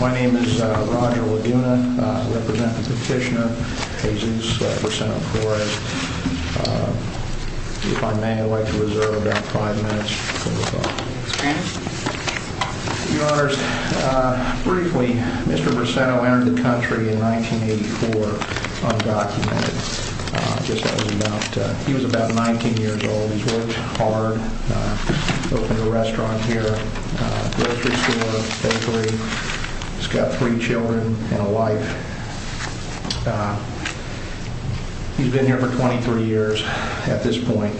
My name is Roger Laguna, I represent the petitioner, Hayes' Berceno-Flores. If I may, I'd like to reserve about five minutes for rebuttal. Your Honors, briefly, Mr. Berceno entered the country in 1984 undocumented. He was about 19 years old. He's worked hard, opened a restaurant here, grocery store, bakery. He's got three children and a wife. He's been here for 23 years at this point.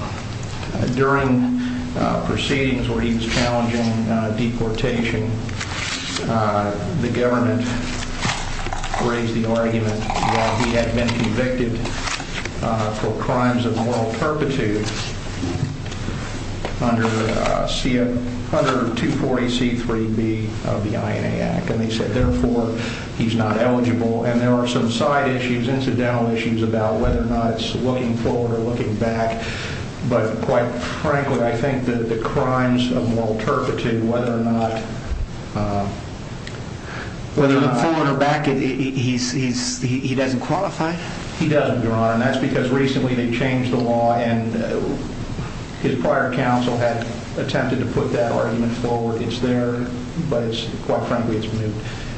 During proceedings where he was challenging deportation, the government raised the argument that he had been convicted for crimes of moral turpitude under 240C3B of the INA Act. And they said, therefore, he's not eligible. And there are some side issues, incidental issues, about whether or not it's looking forward or looking back. But quite frankly, I think that the crimes of moral turpitude, whether or not... Whether it's forward or back, he doesn't qualify? He doesn't, Your Honor, and that's because recently they changed the law and his prior counsel had attempted to put that argument forward. It's there, but it's, quite frankly, it's moot.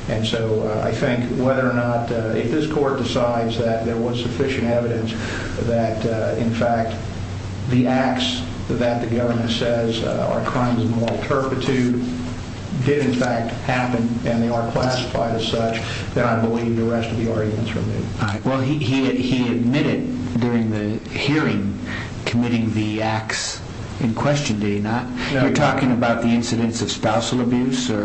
And so I think whether or not, if this court decides that there was sufficient evidence that, in fact, the acts that the government says are crimes of moral turpitude did, in fact, happen and they are classified as such, then I believe the rest of the argument is removed. Well, he admitted during the hearing committing the acts in question, did he not? You're talking about the incidents of spousal abuse? No.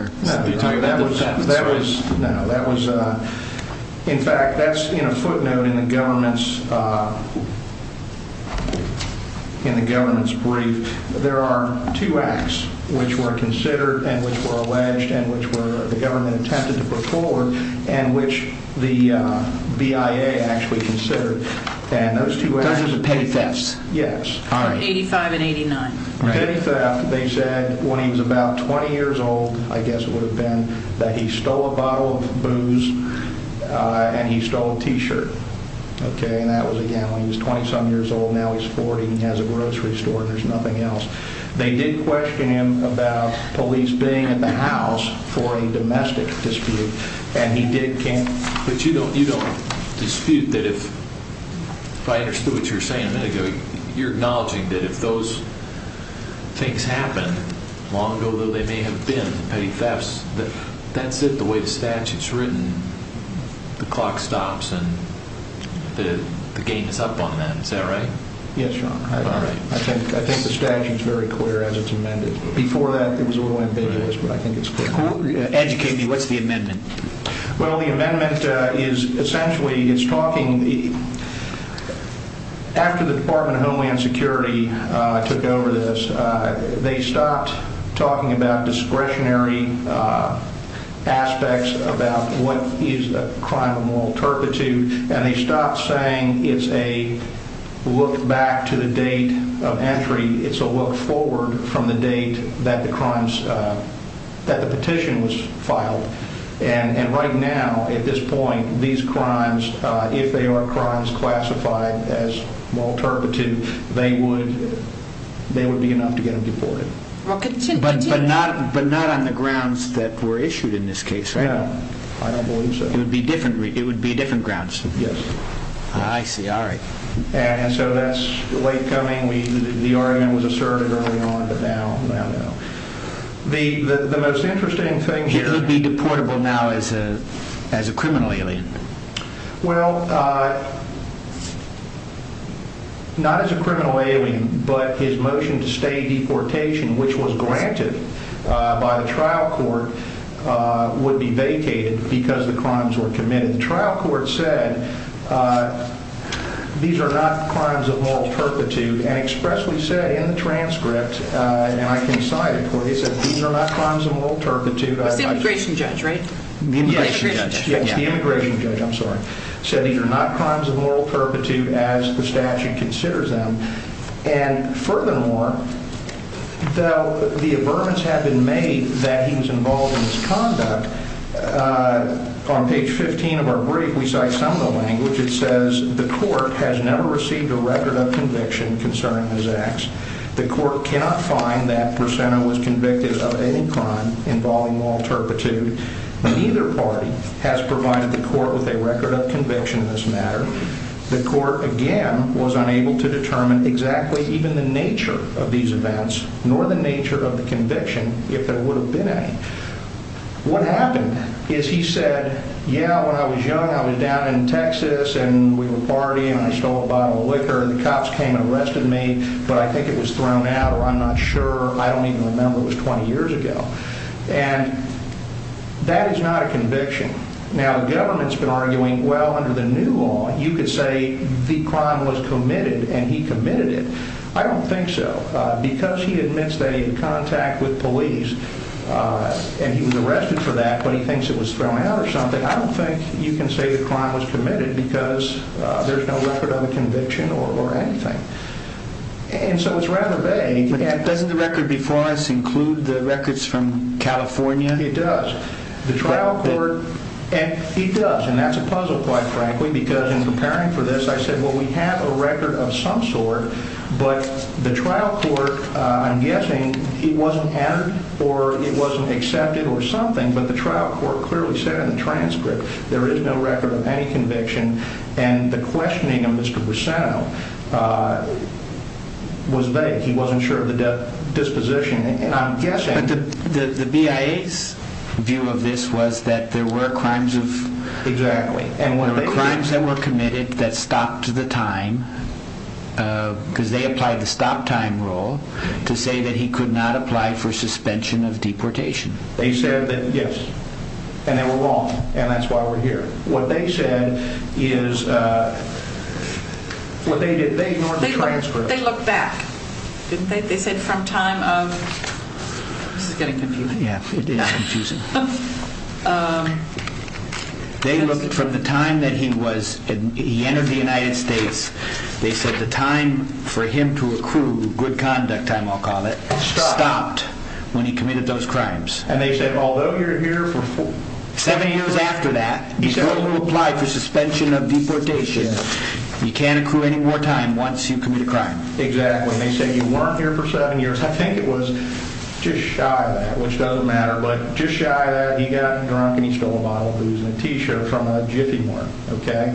In fact, that's in a footnote in the government's brief. There are two acts which were considered and which were alleged and which the government attempted to put forward and which the BIA actually considered. Those are the petty thefts? Yes. 85 and 89. Petty theft, they said, when he was about 20 years old, I guess it would have been, that he stole a bottle of booze and he stole a T-shirt. And that was, again, when he was 20-some years old. Now he's 40 and he has a grocery store and there's nothing else. They did question him about police being at the house for a domestic dispute. But you don't dispute that if, if I understood what you were saying a minute ago, you're acknowledging that if those things happen, long ago though they may have been, petty thefts, that's it, the way the statute's written, the clock stops and the game is up on them. Is that right? Yes, Your Honor. I think the statute's very clear as it's amended. Before that, it was a little ambiguous, but I think it's clear now. Educate me, what's the amendment? And right now, at this point, these crimes, if they are crimes classified as malturbative, they would be enough to get them deported. But not on the grounds that were issued in this case? No, I don't believe so. It would be different grounds? Yes. I see, all right. And so that's late coming. The argument was asserted early on, but now no. It would be deportable now as a criminal alien? Well, not as a criminal alien, but his motion to stay deportation, which was granted by the trial court, would be vacated because the crimes were committed. And the trial court said, these are not crimes of moral turpitude, and expressly said in the transcript, and I can cite it for you, said these are not crimes of moral turpitude. It was the immigration judge, right? Yes, the immigration judge, I'm sorry, said these are not crimes of moral turpitude as the statute considers them. And furthermore, though the averments have been made that he was involved in this conduct, on page 15 of our brief, we cite some of the language. It says the court has never received a record of conviction concerning his acts. The court cannot find that Percento was convicted of any crime involving moral turpitude. Neither party has provided the court with a record of conviction in this matter. The court, again, was unable to determine exactly even the nature of these events, nor the nature of the conviction, if there would have been any. What happened is he said, yeah, when I was young, I was down in Texas, and we were partying, and I stole a bottle of liquor, and the cops came and arrested me, but I think it was thrown out or I'm not sure. I don't even remember. It was 20 years ago. And that is not a conviction. Now, the government's been arguing, well, under the new law, you could say the crime was committed, and he committed it. I don't think so. Because he admits they had contact with police, and he was arrested for that, but he thinks it was thrown out or something. I don't think you can say the crime was committed because there's no record of a conviction or anything. And so it's rather vague. Doesn't the record before us include the records from California? It does. And he does, and that's a puzzle, quite frankly, because in preparing for this, I said, well, we have a record of some sort. But the trial court, I'm guessing he wasn't added or it wasn't accepted or something, but the trial court clearly said in the transcript there is no record of any conviction. And the questioning of Mr. Brissetto was vague. He wasn't sure of the disposition. But the BIA's view of this was that there were crimes that were committed that stopped the time because they applied the stop time rule to say that he could not apply for suspension of deportation. They said that, yes, and they were wrong, and that's why we're here. What they said is they ignored the transcript. But they looked back, didn't they? They said from time of – this is getting confusing. Yeah, it is confusing. They looked from the time that he was – he entered the United States. They said the time for him to accrue good conduct time, I'll call it, stopped when he committed those crimes. And they said, although you're here for – Exactly. They said you weren't here for seven years. I think it was just shy of that, which doesn't matter. But just shy of that, he got drunk and he stole a bottle of booze and a T-shirt from a Jiffy Mart, okay?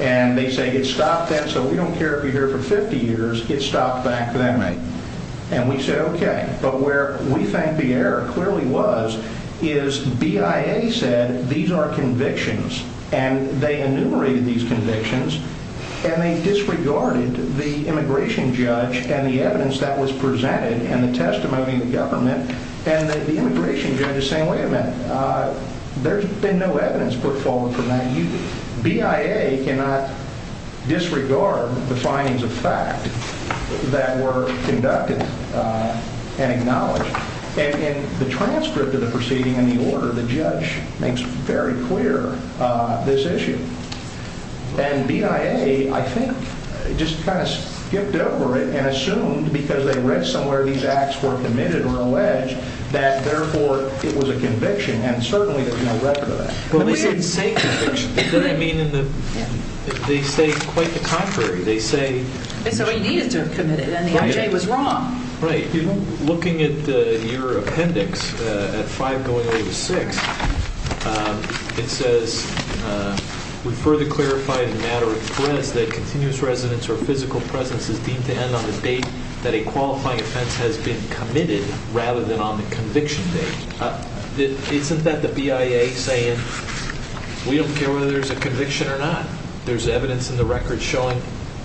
And they say it stopped then, so we don't care if you're here for 50 years. It stopped back then, right? And we said, okay. But where we think the error clearly was is BIA said these are convictions, and they enumerated these convictions, and they disregarded the immigration judge and the evidence that was presented and the testimony of the government. And the immigration judge is saying, wait a minute, there's been no evidence put forward for that. BIA cannot disregard the findings of fact that were conducted and acknowledged. And in the transcript of the proceeding and the order, the judge makes very clear this issue. And BIA, I think, just kind of skipped over it and assumed because they read somewhere these acts were committed or alleged, that therefore it was a conviction, and certainly there's no record of that. But they didn't say conviction. They say quite the contrary. They say- So he needed to have committed, and the MJ was wrong. Right. You know, looking at your appendix at 5 going over 6, it says, we further clarify in the matter of Therese that continuous residence or physical presence is deemed to end on the date that a qualifying offense has been committed rather than on the conviction date. Isn't that the BIA saying, we don't care whether there's a conviction or not. There's evidence in the record showing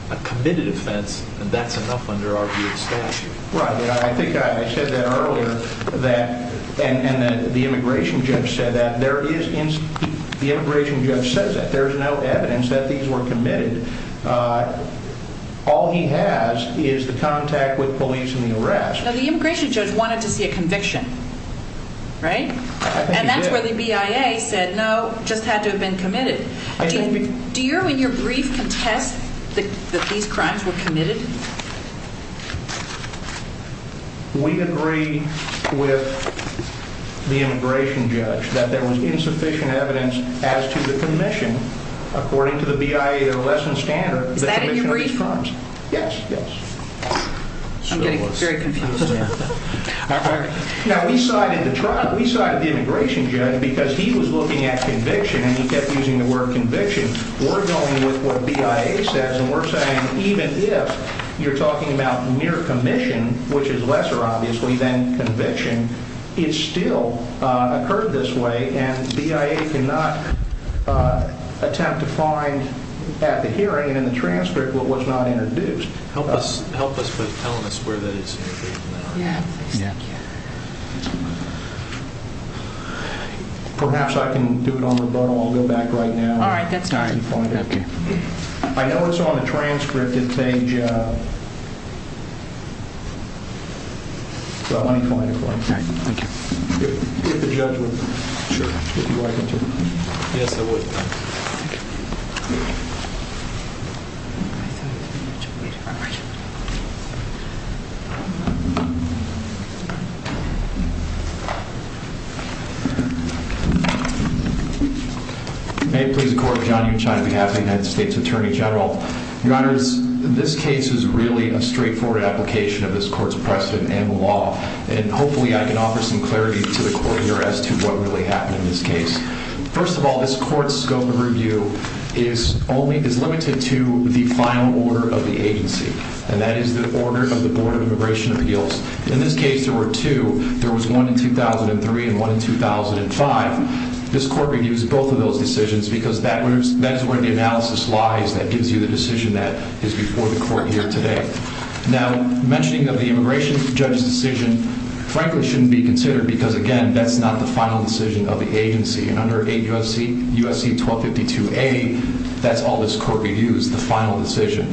a committed offense, and that's enough under our view of statute. Right. I think I said that earlier, and the immigration judge said that. The immigration judge says that. There's no evidence that these were committed. All he has is the contact with police and the arrest. Now, the immigration judge wanted to see a conviction, right? I think he did. And that's where the BIA said, no, just had to have been committed. Do you, in your brief, contest that these crimes were committed? We agree with the immigration judge that there was insufficient evidence as to the commission, according to the BIA adolescent standard, the commission of these crimes. Is that in your brief? Yes, yes. I'm getting very confused about that. Now, we cited the trial. We cited the immigration judge because he was looking at conviction, and he kept using the word conviction. We're going with what BIA says, and we're saying even if you're talking about mere commission, which is lesser, obviously, than conviction, it still occurred this way, and BIA cannot attempt to find at the hearing and in the transcript what was not introduced. Help us by telling us where that is. Yeah. Perhaps I can do it on rebuttal. I'll go back right now. All right. That's all right. I know it's on the transcript at page 254. All right. Thank you. Sure. Would you like it to? Yes, I would. Thank you. Thank you. May it please the Court, John Unschein on behalf of the United States Attorney General. Your Honors, this case is really a straightforward application of this Court's precedent and law, and hopefully I can offer some clarity to the Court here as to what really happened in this case. First of all, this Court's scope of review is limited to the final order of the agency, and that is the order of the Board of Immigration Appeals. In this case, there were two. There was one in 2003 and one in 2005. This Court reviews both of those decisions because that is where the analysis lies. That gives you the decision that is before the Court here today. Now, mentioning of the immigration judge's decision, frankly, shouldn't be considered because, again, that's not the final decision of the agency. Under USC 1252A, that's all this Court reviews, the final decision.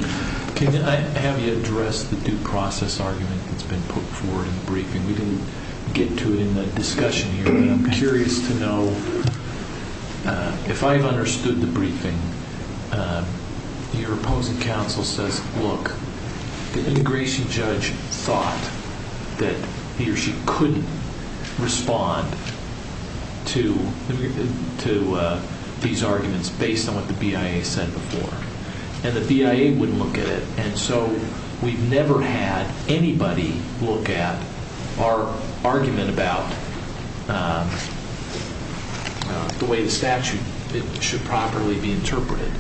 Can I have you address the due process argument that's been put forward in the briefing? We didn't get to it in the discussion here, but I'm curious to know, if I've understood the briefing, your opposing counsel says, look, the immigration judge thought that he or she couldn't respond to these arguments based on what the BIA said before, and the BIA wouldn't look at it. And so we've never had anybody look at our argument about the way the statute should properly be interpreted.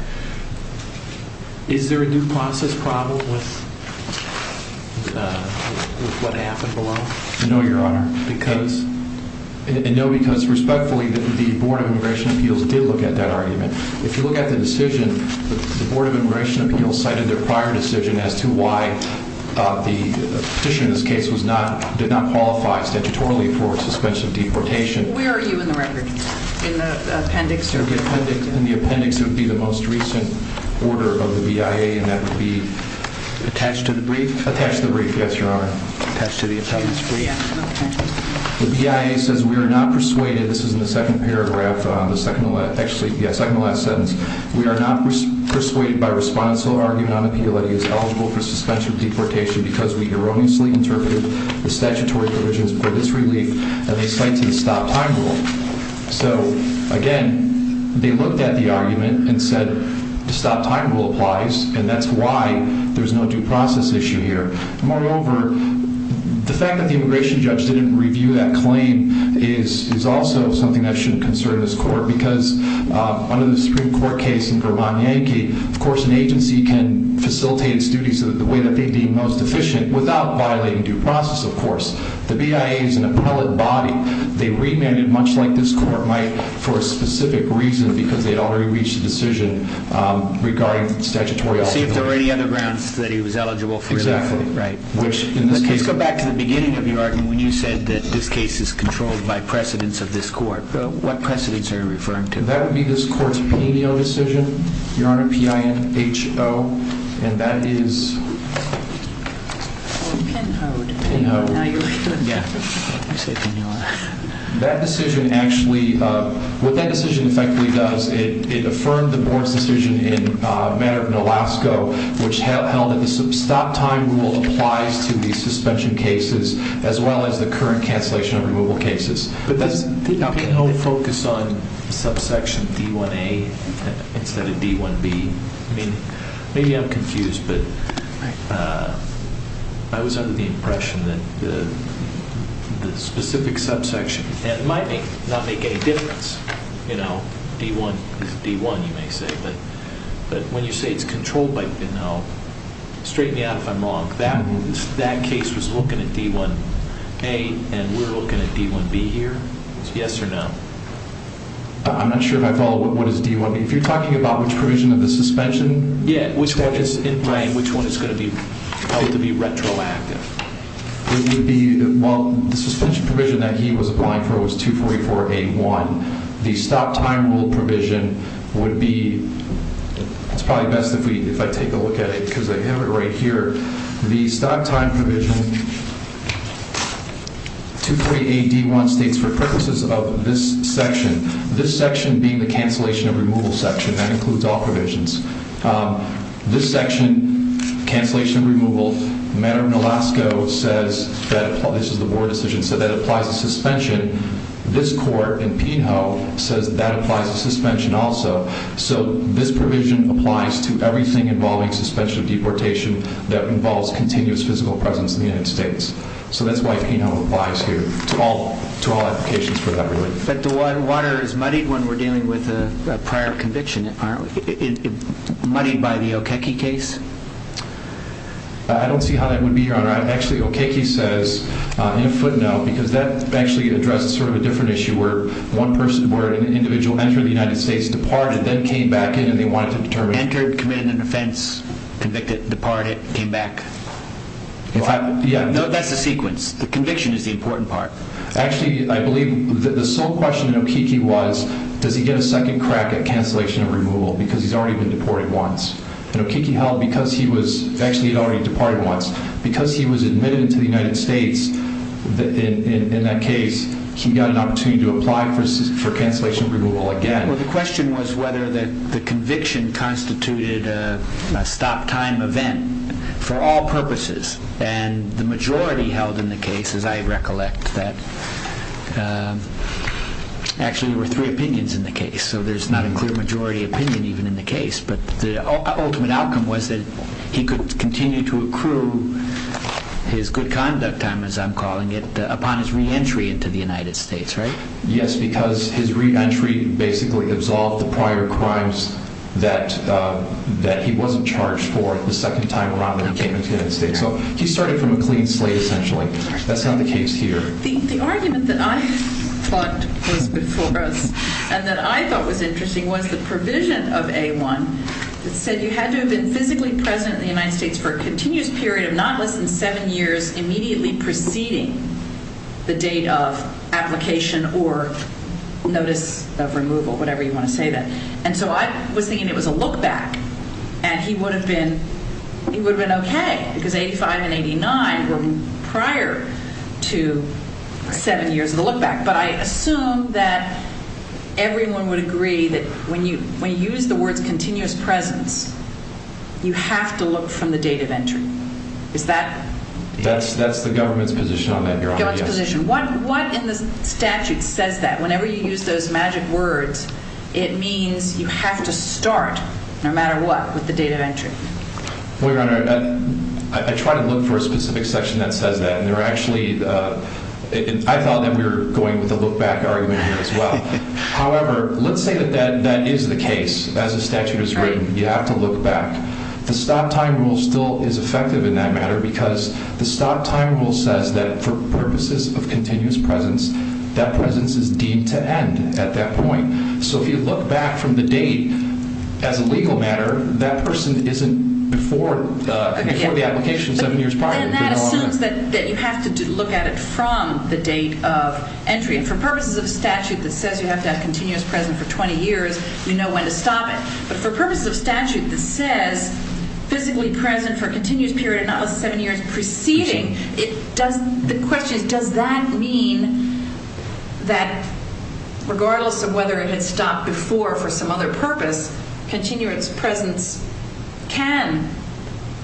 Is there a due process problem with what happened below? No, Your Honor. Because? No, because, respectfully, the Board of Immigration Appeals did look at that argument. If you look at the decision, the Board of Immigration Appeals cited their prior decision as to why the petition in this case did not qualify statutorily for suspension of deportation. Where are you in the record? In the appendix? In the appendix would be the most recent order of the BIA, and that would be... Attached to the brief? Attached to the brief, yes, Your Honor. Attached to the appendix. The BIA says, we are not persuaded, this is in the second paragraph, actually the second to last sentence, we are not persuaded by responsible argument on appeal that he is eligible for suspension of deportation because we erroneously interpreted the statutory provisions for this relief, and they cite to the stop time rule. So, again, they looked at the argument and said the stop time rule applies, and that's why there's no due process issue here. Moreover, the fact that the immigration judge didn't review that claim is also something that shouldn't concern this court because under the Supreme Court case in Vermont Yankee, of course an agency can facilitate its duties the way that they deem most efficient without violating due process, of course. The BIA is an appellate body. They remanded much like this court might for a specific reason because they had already reached a decision regarding statutory eligibility. Let's see if there are any other grounds that he was eligible for relief. Exactly. Right. Let's go back to the beginning of your argument when you said that this case is controlled by precedents of this court. What precedents are you referring to? That would be this court's P&O decision, Your Honor, P-I-N-H-O, and that is... Penhode. Penhode, yeah. I said Penhode. That decision actually... What that decision effectively does, it affirmed the board's decision in a matter in Alaska which held that the stop time rule applies to the suspension cases as well as the current cancellation of removal cases. But does Penhode focus on subsection D-1A instead of D-1B? Maybe I'm confused, but I was under the impression that the specific subsection might not make any difference. You know, D-1 is D-1, you may say. But when you say it's controlled by Penhode, straighten me out if I'm wrong. That case was looking at D-1A and we're looking at D-1B here? It's yes or no. I'm not sure if I follow. What is D-1B? If you're talking about which provision of the suspension... Yeah, which one is in play and which one is going to be held to be retroactive. It would be... Well, the suspension provision that he was applying for was 244-A-1. The stop time rule provision would be... It's probably best if I take a look at it because I have it right here. The stop time provision, 244-A-D-1, states for purposes of this section, this section being the cancellation of removal section. That includes all provisions. This section, cancellation of removal, matter in Alaska says that this is the board decision, so that applies to suspension. This court in Penhode says that applies to suspension also. So this provision applies to everything involving suspension of deportation that involves continuous physical presence in the United States. So that's why Penhode applies here to all applications for that. But the water is muddied when we're dealing with a prior conviction, aren't we? Muddied by the Okeke case? I don't see how that would be, Your Honor. Actually, Okeke says, in a footnote, because that actually addresses sort of a different issue where one person, where an individual entered the United States, departed, then came back in, and they wanted to determine... Entered, committed an offense, convicted, departed, came back. Yeah. No, that's the sequence. The conviction is the important part. Actually, I believe the sole question in Okeke was, does he get a second crack at cancellation of removal because he's already been deported once? And Okeke held because he was... Actually, he'd already departed once. Because he was admitted into the United States in that case, he got an opportunity to apply for cancellation of removal again. Well, the question was whether the conviction constituted a stop-time event for all purposes. And the majority held in the case, as I recollect, that actually there were three opinions in the case, so there's not a clear majority opinion even in the case, but the ultimate outcome was that he could continue to accrue his good conduct time, as I'm calling it, upon his reentry into the United States, right? Yes, because his reentry basically absolved the prior crimes that he wasn't charged for the second time around when he came into the United States. So he started from a clean slate, essentially. That's not the case here. The argument that I thought was before us and that I thought was interesting was the provision of A-1 that said you had to have been physically present in the United States for a continuous period of not less than seven years immediately preceding the date of application or notice of removal, whatever you want to say that. And so I was thinking it was a look-back, and he would have been okay, because 85 and 89 were prior to seven years of the look-back. But I assume that everyone would agree that when you use the words continuous presence, you have to look from the date of entry. Is that? That's the government's position on that, Your Honor. Government's position. What in the statute says that? Whenever you use those magic words, it means you have to start, no matter what, with the date of entry. Well, Your Honor, I try to look for a specific section that says that, and there are actually – I thought that we were going with the look-back argument here as well. However, let's say that that is the case. As the statute has written, you have to look back. The stop-time rule still is effective in that matter because the stop-time rule says that for purposes of continuous presence, that presence is deemed to end at that point. So if you look back from the date, as a legal matter, that person isn't before the application seven years prior. And that assumes that you have to look at it from the date of entry. And for purposes of statute that says you have to have continuous presence for 20 years, you know when to stop it. But for purposes of statute that says physically present for a continuous period and not less than seven years preceding, the question is, does that mean that regardless of whether it had stopped before for some other purpose, continuous presence can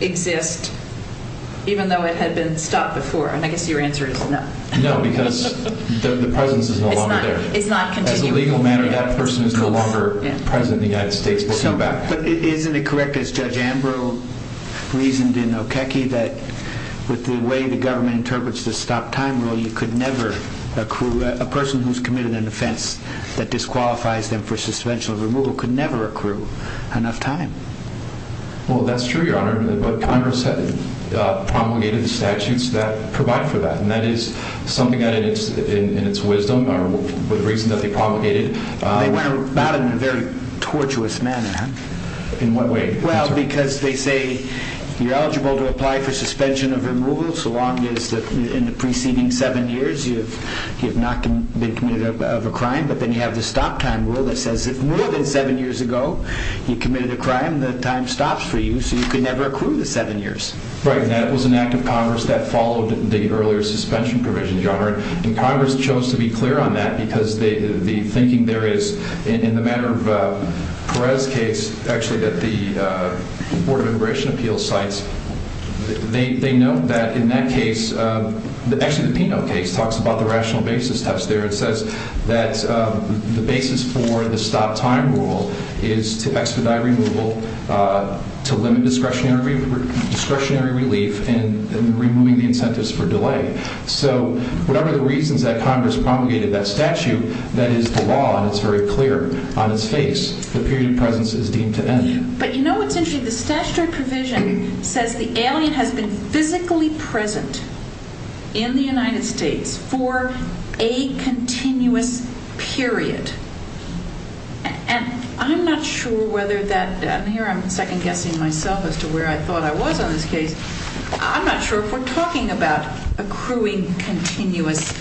exist even though it had been stopped before? And I guess your answer is no. No, because the presence is no longer there. As a legal matter, that person is no longer present in the United States. But isn't it correct, as Judge Ambrose reasoned in Okecki, that with the way the government interprets the stop-time rule, you could never accrue, a person who's committed an offense that disqualifies them for suspension of removal could never accrue enough time? Well, that's true, Your Honor, but Congress promulgated the statutes that provide for that. And that is something that in its wisdom or the reason that they promulgated. They went about it in a very tortuous manner. In what way? Well, because they say you're eligible to apply for suspension of removal so long as in the preceding seven years you have not been committed of a crime, but then you have the stop-time rule that says if more than seven years ago you committed a crime, the time stops for you, so you could never accrue the seven years. Right, and that was an act of Congress that followed the earlier suspension provisions, Your Honor. And Congress chose to be clear on that because the thinking there is, in the matter of Perez's case, actually, that the Board of Immigration Appeals cites, they note that in that case, actually the Pinot case talks about the rational basis test there. It says that the basis for the stop-time rule is to expedite removal, to limit discretionary relief, and removing the incentives for delay. So whatever the reasons that Congress promulgated that statute, that is the law and it's very clear on its face. The period of presence is deemed to end. But you know what's interesting? The statutory provision says the alien has been physically present in the United States for a continuous period. And I'm not sure whether that – and here I'm second-guessing myself as to where I thought I was on this case – but I'm not sure if we're talking about accruing continuous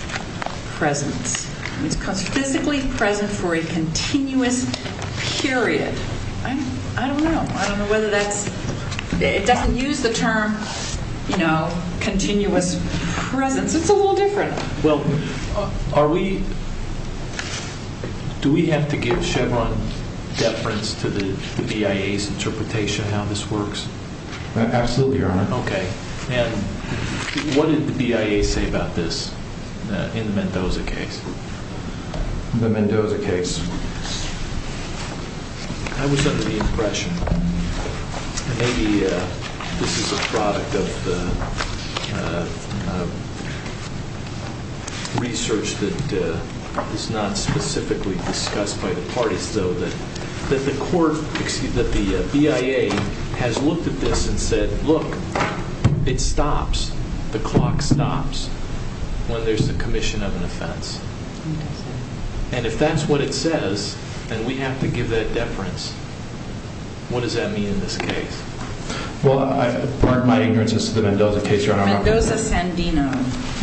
presence. It's called physically present for a continuous period. I don't know. I don't know whether that's – it doesn't use the term, you know, continuous presence. It's a little different. Well, are we – do we have to give Chevron deference to the BIA's interpretation of how this works? Absolutely, Your Honor. Okay. And what did the BIA say about this in the Mendoza case? The Mendoza case? Yes. I was under the impression, and maybe this is a product of the research that is not specifically discussed by the parties, that the BIA has looked at this and said, look, it stops. The clock stops when there's a commission of an offense. And if that's what it says, then we have to give that deference. What does that mean in this case? Well, pardon my ignorance as to the Mendoza case, Your Honor. Mendoza-Sandino.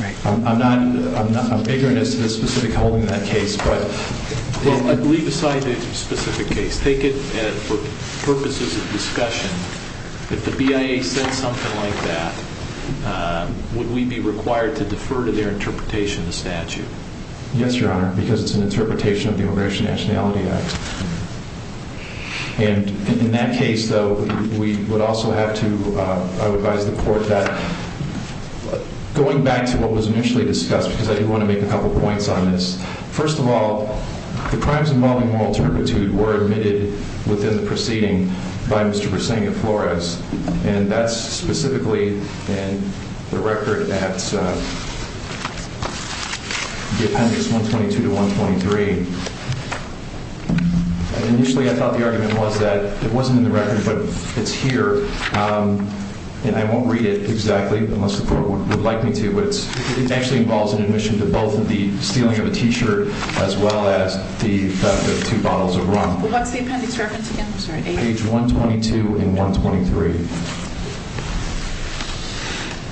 Right. I'm not – I'm ignorant as to the specific holding of that case. Well, leave aside the specific case. Take it for purposes of discussion. If the BIA said something like that, would we be required to defer to their interpretation of the statute? Yes, Your Honor, because it's an interpretation of the Immigration and Nationality Act. And in that case, though, we would also have to – I would advise the Court that going back to what was initially discussed, because I do want to make a couple points on this. First of all, the crimes involving moral turpitude were admitted within the proceeding by Mr. Brisinga-Flores, and that's specifically in the record at the appendix 122 to 123. Initially, I thought the argument was that it wasn't in the record, but it's here, and I won't read it exactly unless the Court would like me to, but it actually involves an admission to both the stealing of a T-shirt as well as the theft of two bottles of rum. Well, what's the appendix reference again? I'm sorry. Page 122 and 123.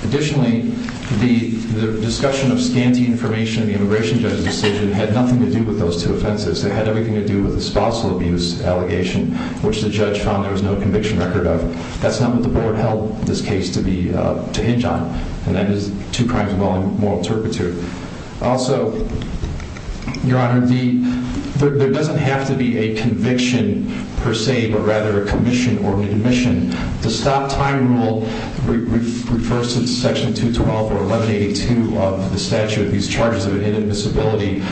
Additionally, the discussion of scanty information in the immigration judge's decision had nothing to do with those two offenses. It had everything to do with the spousal abuse allegation, which the judge found there was no conviction record of. That's not what the Board held this case to hinge on, and that is two crimes involving moral turpitude. Also, Your Honor, there doesn't have to be a conviction per se, but rather a commission or an admission. The stop-time rule refers to Section 212 or 1182 of the statute, these charges of inadmissibility,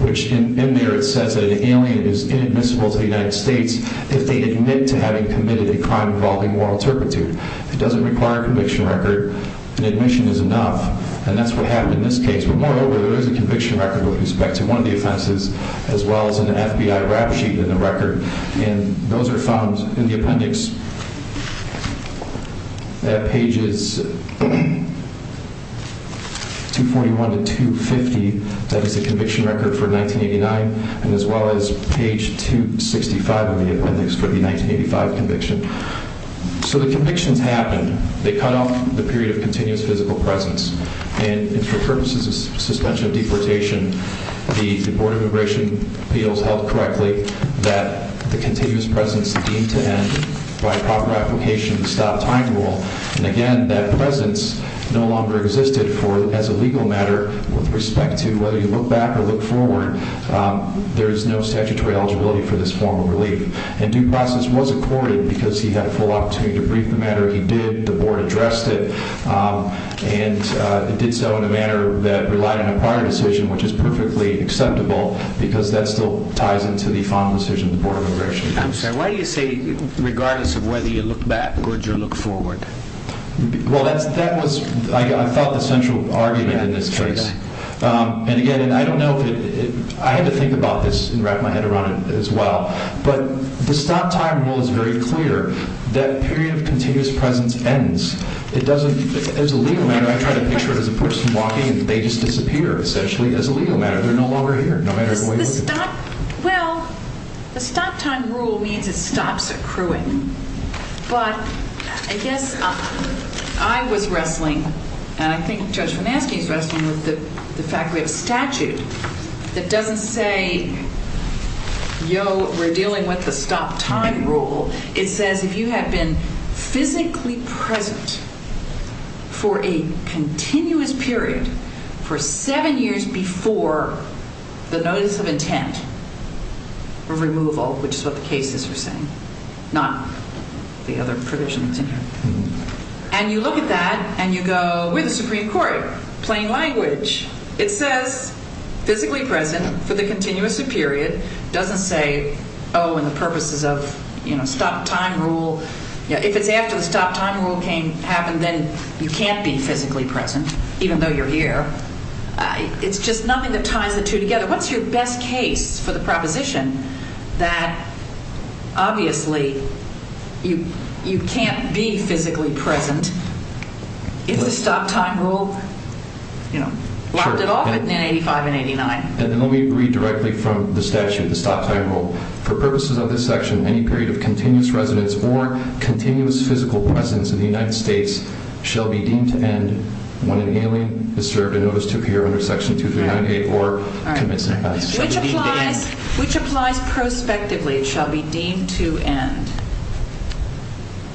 which in there it says that an alien is inadmissible to the United States if they admit to having committed a crime involving moral turpitude. It doesn't require a conviction record. An admission is enough, and that's what happened in this case. But moreover, there is a conviction record with respect to one of the offenses as well as an FBI rap sheet in the record, and those are found in the appendix at pages 241 to 250. That is the conviction record for 1989, and as well as page 265 of the appendix for the 1985 conviction. So the convictions happened. They cut off the period of continuous physical presence, and for purposes of suspension of deportation, the Board of Immigration Appeals held correctly that the continuous presence deemed to end by proper application of the stop-time rule, and again, that presence no longer existed as a legal matter with respect to whether you look back or look forward. There is no statutory eligibility for this form of relief, and due process was accorded because he had a full opportunity to brief the matter. He did. The Board addressed it, and it did so in a manner that relied on a prior decision, which is perfectly acceptable because that still ties into the final decision of the Board of Immigration Appeals. I'm sorry. Why do you say regardless of whether you look backwards or look forward? Well, that was, I thought, the central argument in this case, and again, I don't know if it, I had to think about this and wrap my head around it as well, but the stop-time rule is very clear. That period of continuous presence ends. It doesn't, as a legal matter, I try to picture it as a person walking, and they just disappear, essentially, as a legal matter. They're no longer here, no matter the way you look at it. Well, the stop-time rule means it stops accruing, but I guess I was wrestling, and I think Judge Finasci is wrestling with the fact that we have a statute that doesn't say, yo, we're dealing with the stop-time rule. It says if you have been physically present for a continuous period, for seven years before the notice of intent of removal, which is what the case is we're saying, not the other provisions in here, and you look at that and you go, we're the Supreme Court, plain language. It says physically present for the continuous period. It doesn't say, oh, in the purposes of stop-time rule, if it's after the stop-time rule happened, then you can't be physically present, even though you're here. It's just nothing that ties the two together. What's your best case for the proposition that, obviously, you can't be physically present if the stop-time rule, you know, blocked it off in N85 and 89? And let me read directly from the statute, the stop-time rule. For purposes of this section, any period of continuous residence or continuous physical presence in the United States shall be deemed to end when an alien is served a notice to appear under Section 2398 or commits an offense. Which applies prospectively. It shall be deemed to end.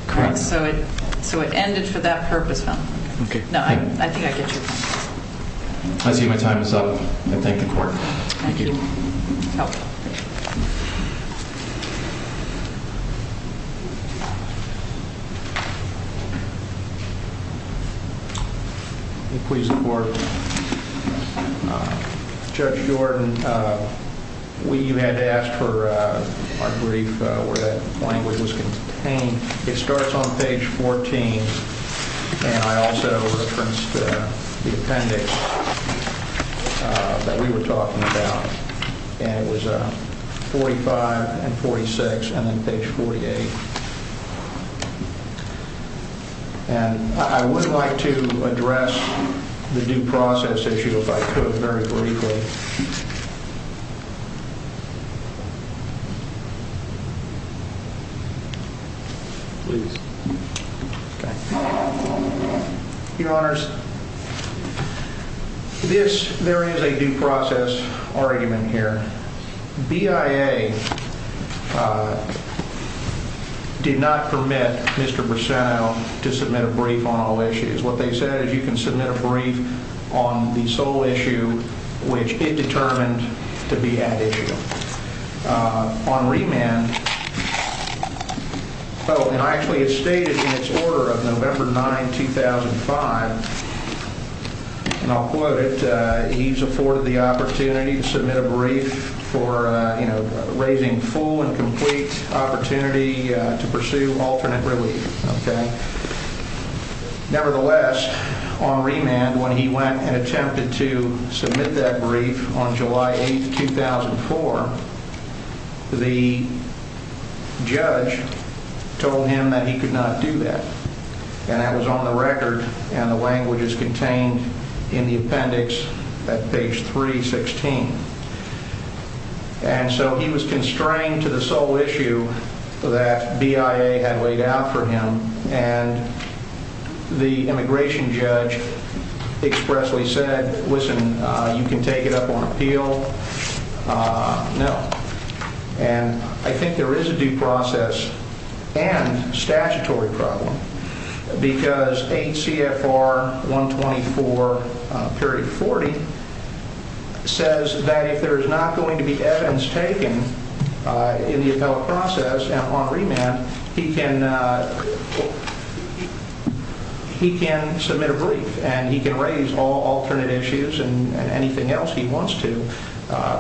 Correct. So it ended for that purpose, then. Okay. No, I think I get your point. I see my time is up. I thank the Court. Thank you. I need help. Please, the Court. Judge Jordan, we had asked for our brief, where that language was contained. It starts on page 14, and I also referenced the appendix that we were talking about. And it was 45 and 46, and then page 48. And I would like to address the due process issue, if I could, very briefly. Please. Okay. Your Honors, this, there is a due process argument here. BIA did not permit Mr. Brissetto to submit a brief on all issues. What they said is you can submit a brief on the sole issue which it determined to be at issue. On remand, oh, and actually it stated in its order of November 9, 2005, and I'll quote it, he's afforded the opportunity to submit a brief for, you know, raising full and complete opportunity to pursue alternate relief. Okay. Nevertheless, on remand, when he went and attempted to submit that brief on July 8, 2004, the judge told him that he could not do that. And that was on the record, and the language is contained in the appendix at page 316. And so he was constrained to the sole issue that BIA had laid out for him, and the immigration judge expressly said, listen, you can take it up on appeal. No. And I think there is a due process and statutory problem because 8 CFR 124.40 says that if there is not going to be evidence taken in the appellate process on remand, he can submit a brief and he can raise all alternate issues and anything else he wants to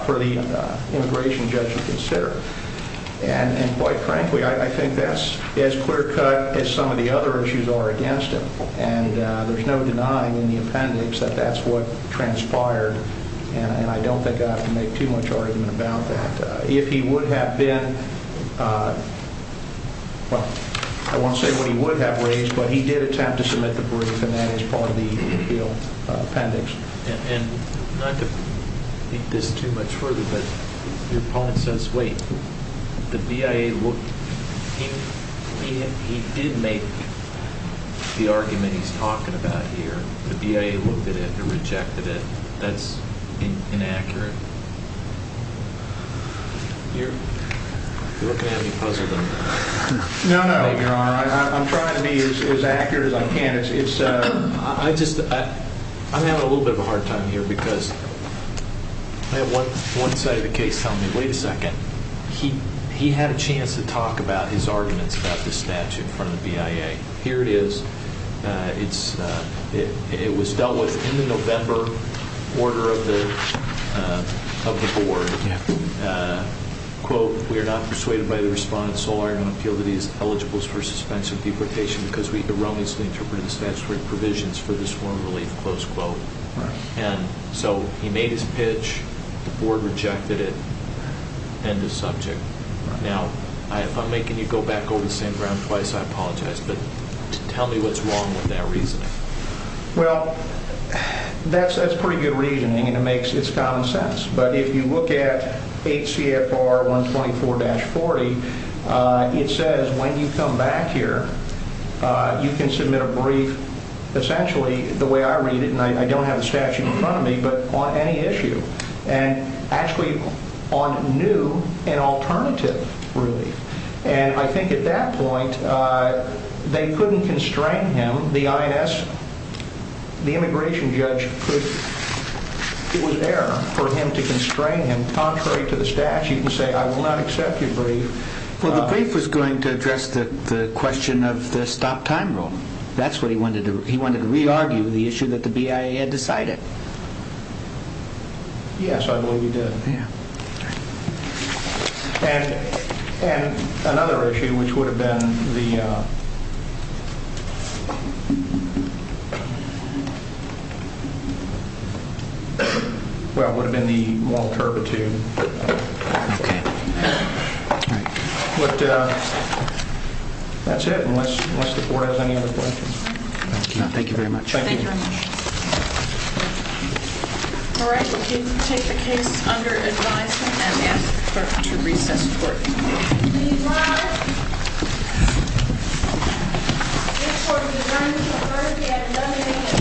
for the immigration judge to consider. And quite frankly, I think that's as clear cut as some of the other issues are against him. And there's no denying in the appendix that that's what transpired, and I don't think I have to make too much argument about that. If he would have been, well, I won't say what he would have raised, but he did attempt to submit the brief and that is part of the appeal appendix. And not to beat this too much further, but your opponent says, wait, the BIA looked, he did make the argument he's talking about here. The BIA looked at it and rejected it. That's inaccurate. You're looking at me puzzled. No, no. I'm trying to be as accurate as I can. I just, I'm having a little bit of a hard time here because I have one side of the case telling me, wait a second. He had a chance to talk about his arguments about this statute in front of the BIA. Here it is. It was dealt with in the November order of the board. Quote, we are not persuaded by the response, so I'm going to appeal to these eligibles for suspension of deportation because we erroneously interpreted the statutory provisions for this form of relief, close quote. And so he made his pitch. The board rejected it. End of subject. Now, if I'm making you go back over the same ground twice, I apologize. But tell me what's wrong with that reasoning. Well, that's pretty good reasoning, and it makes its common sense. But if you look at 8 CFR 124-40, it says when you come back here, you can submit a brief essentially the way I read it. And I don't have the statute in front of me, but on any issue. And actually on new and alternative relief. And I think at that point they couldn't constrain him. The INS, the immigration judge, it was there for him to constrain him. Contrary to the statute, you can say I will not accept your brief. Well, the brief was going to address the question of the stop time rule. That's what he wanted to do. He wanted to re-argue the issue that the BIA had decided. Yes, I believe he did. And another issue, which would have been the moral turpitude. Okay. But that's it, unless the board has any other questions. Thank you very much. Thank you very much. All right. We can take the case under advisement and ask for it to recess to work. Please rise. This court is adjourned. The court is adjourned at 11 a.m.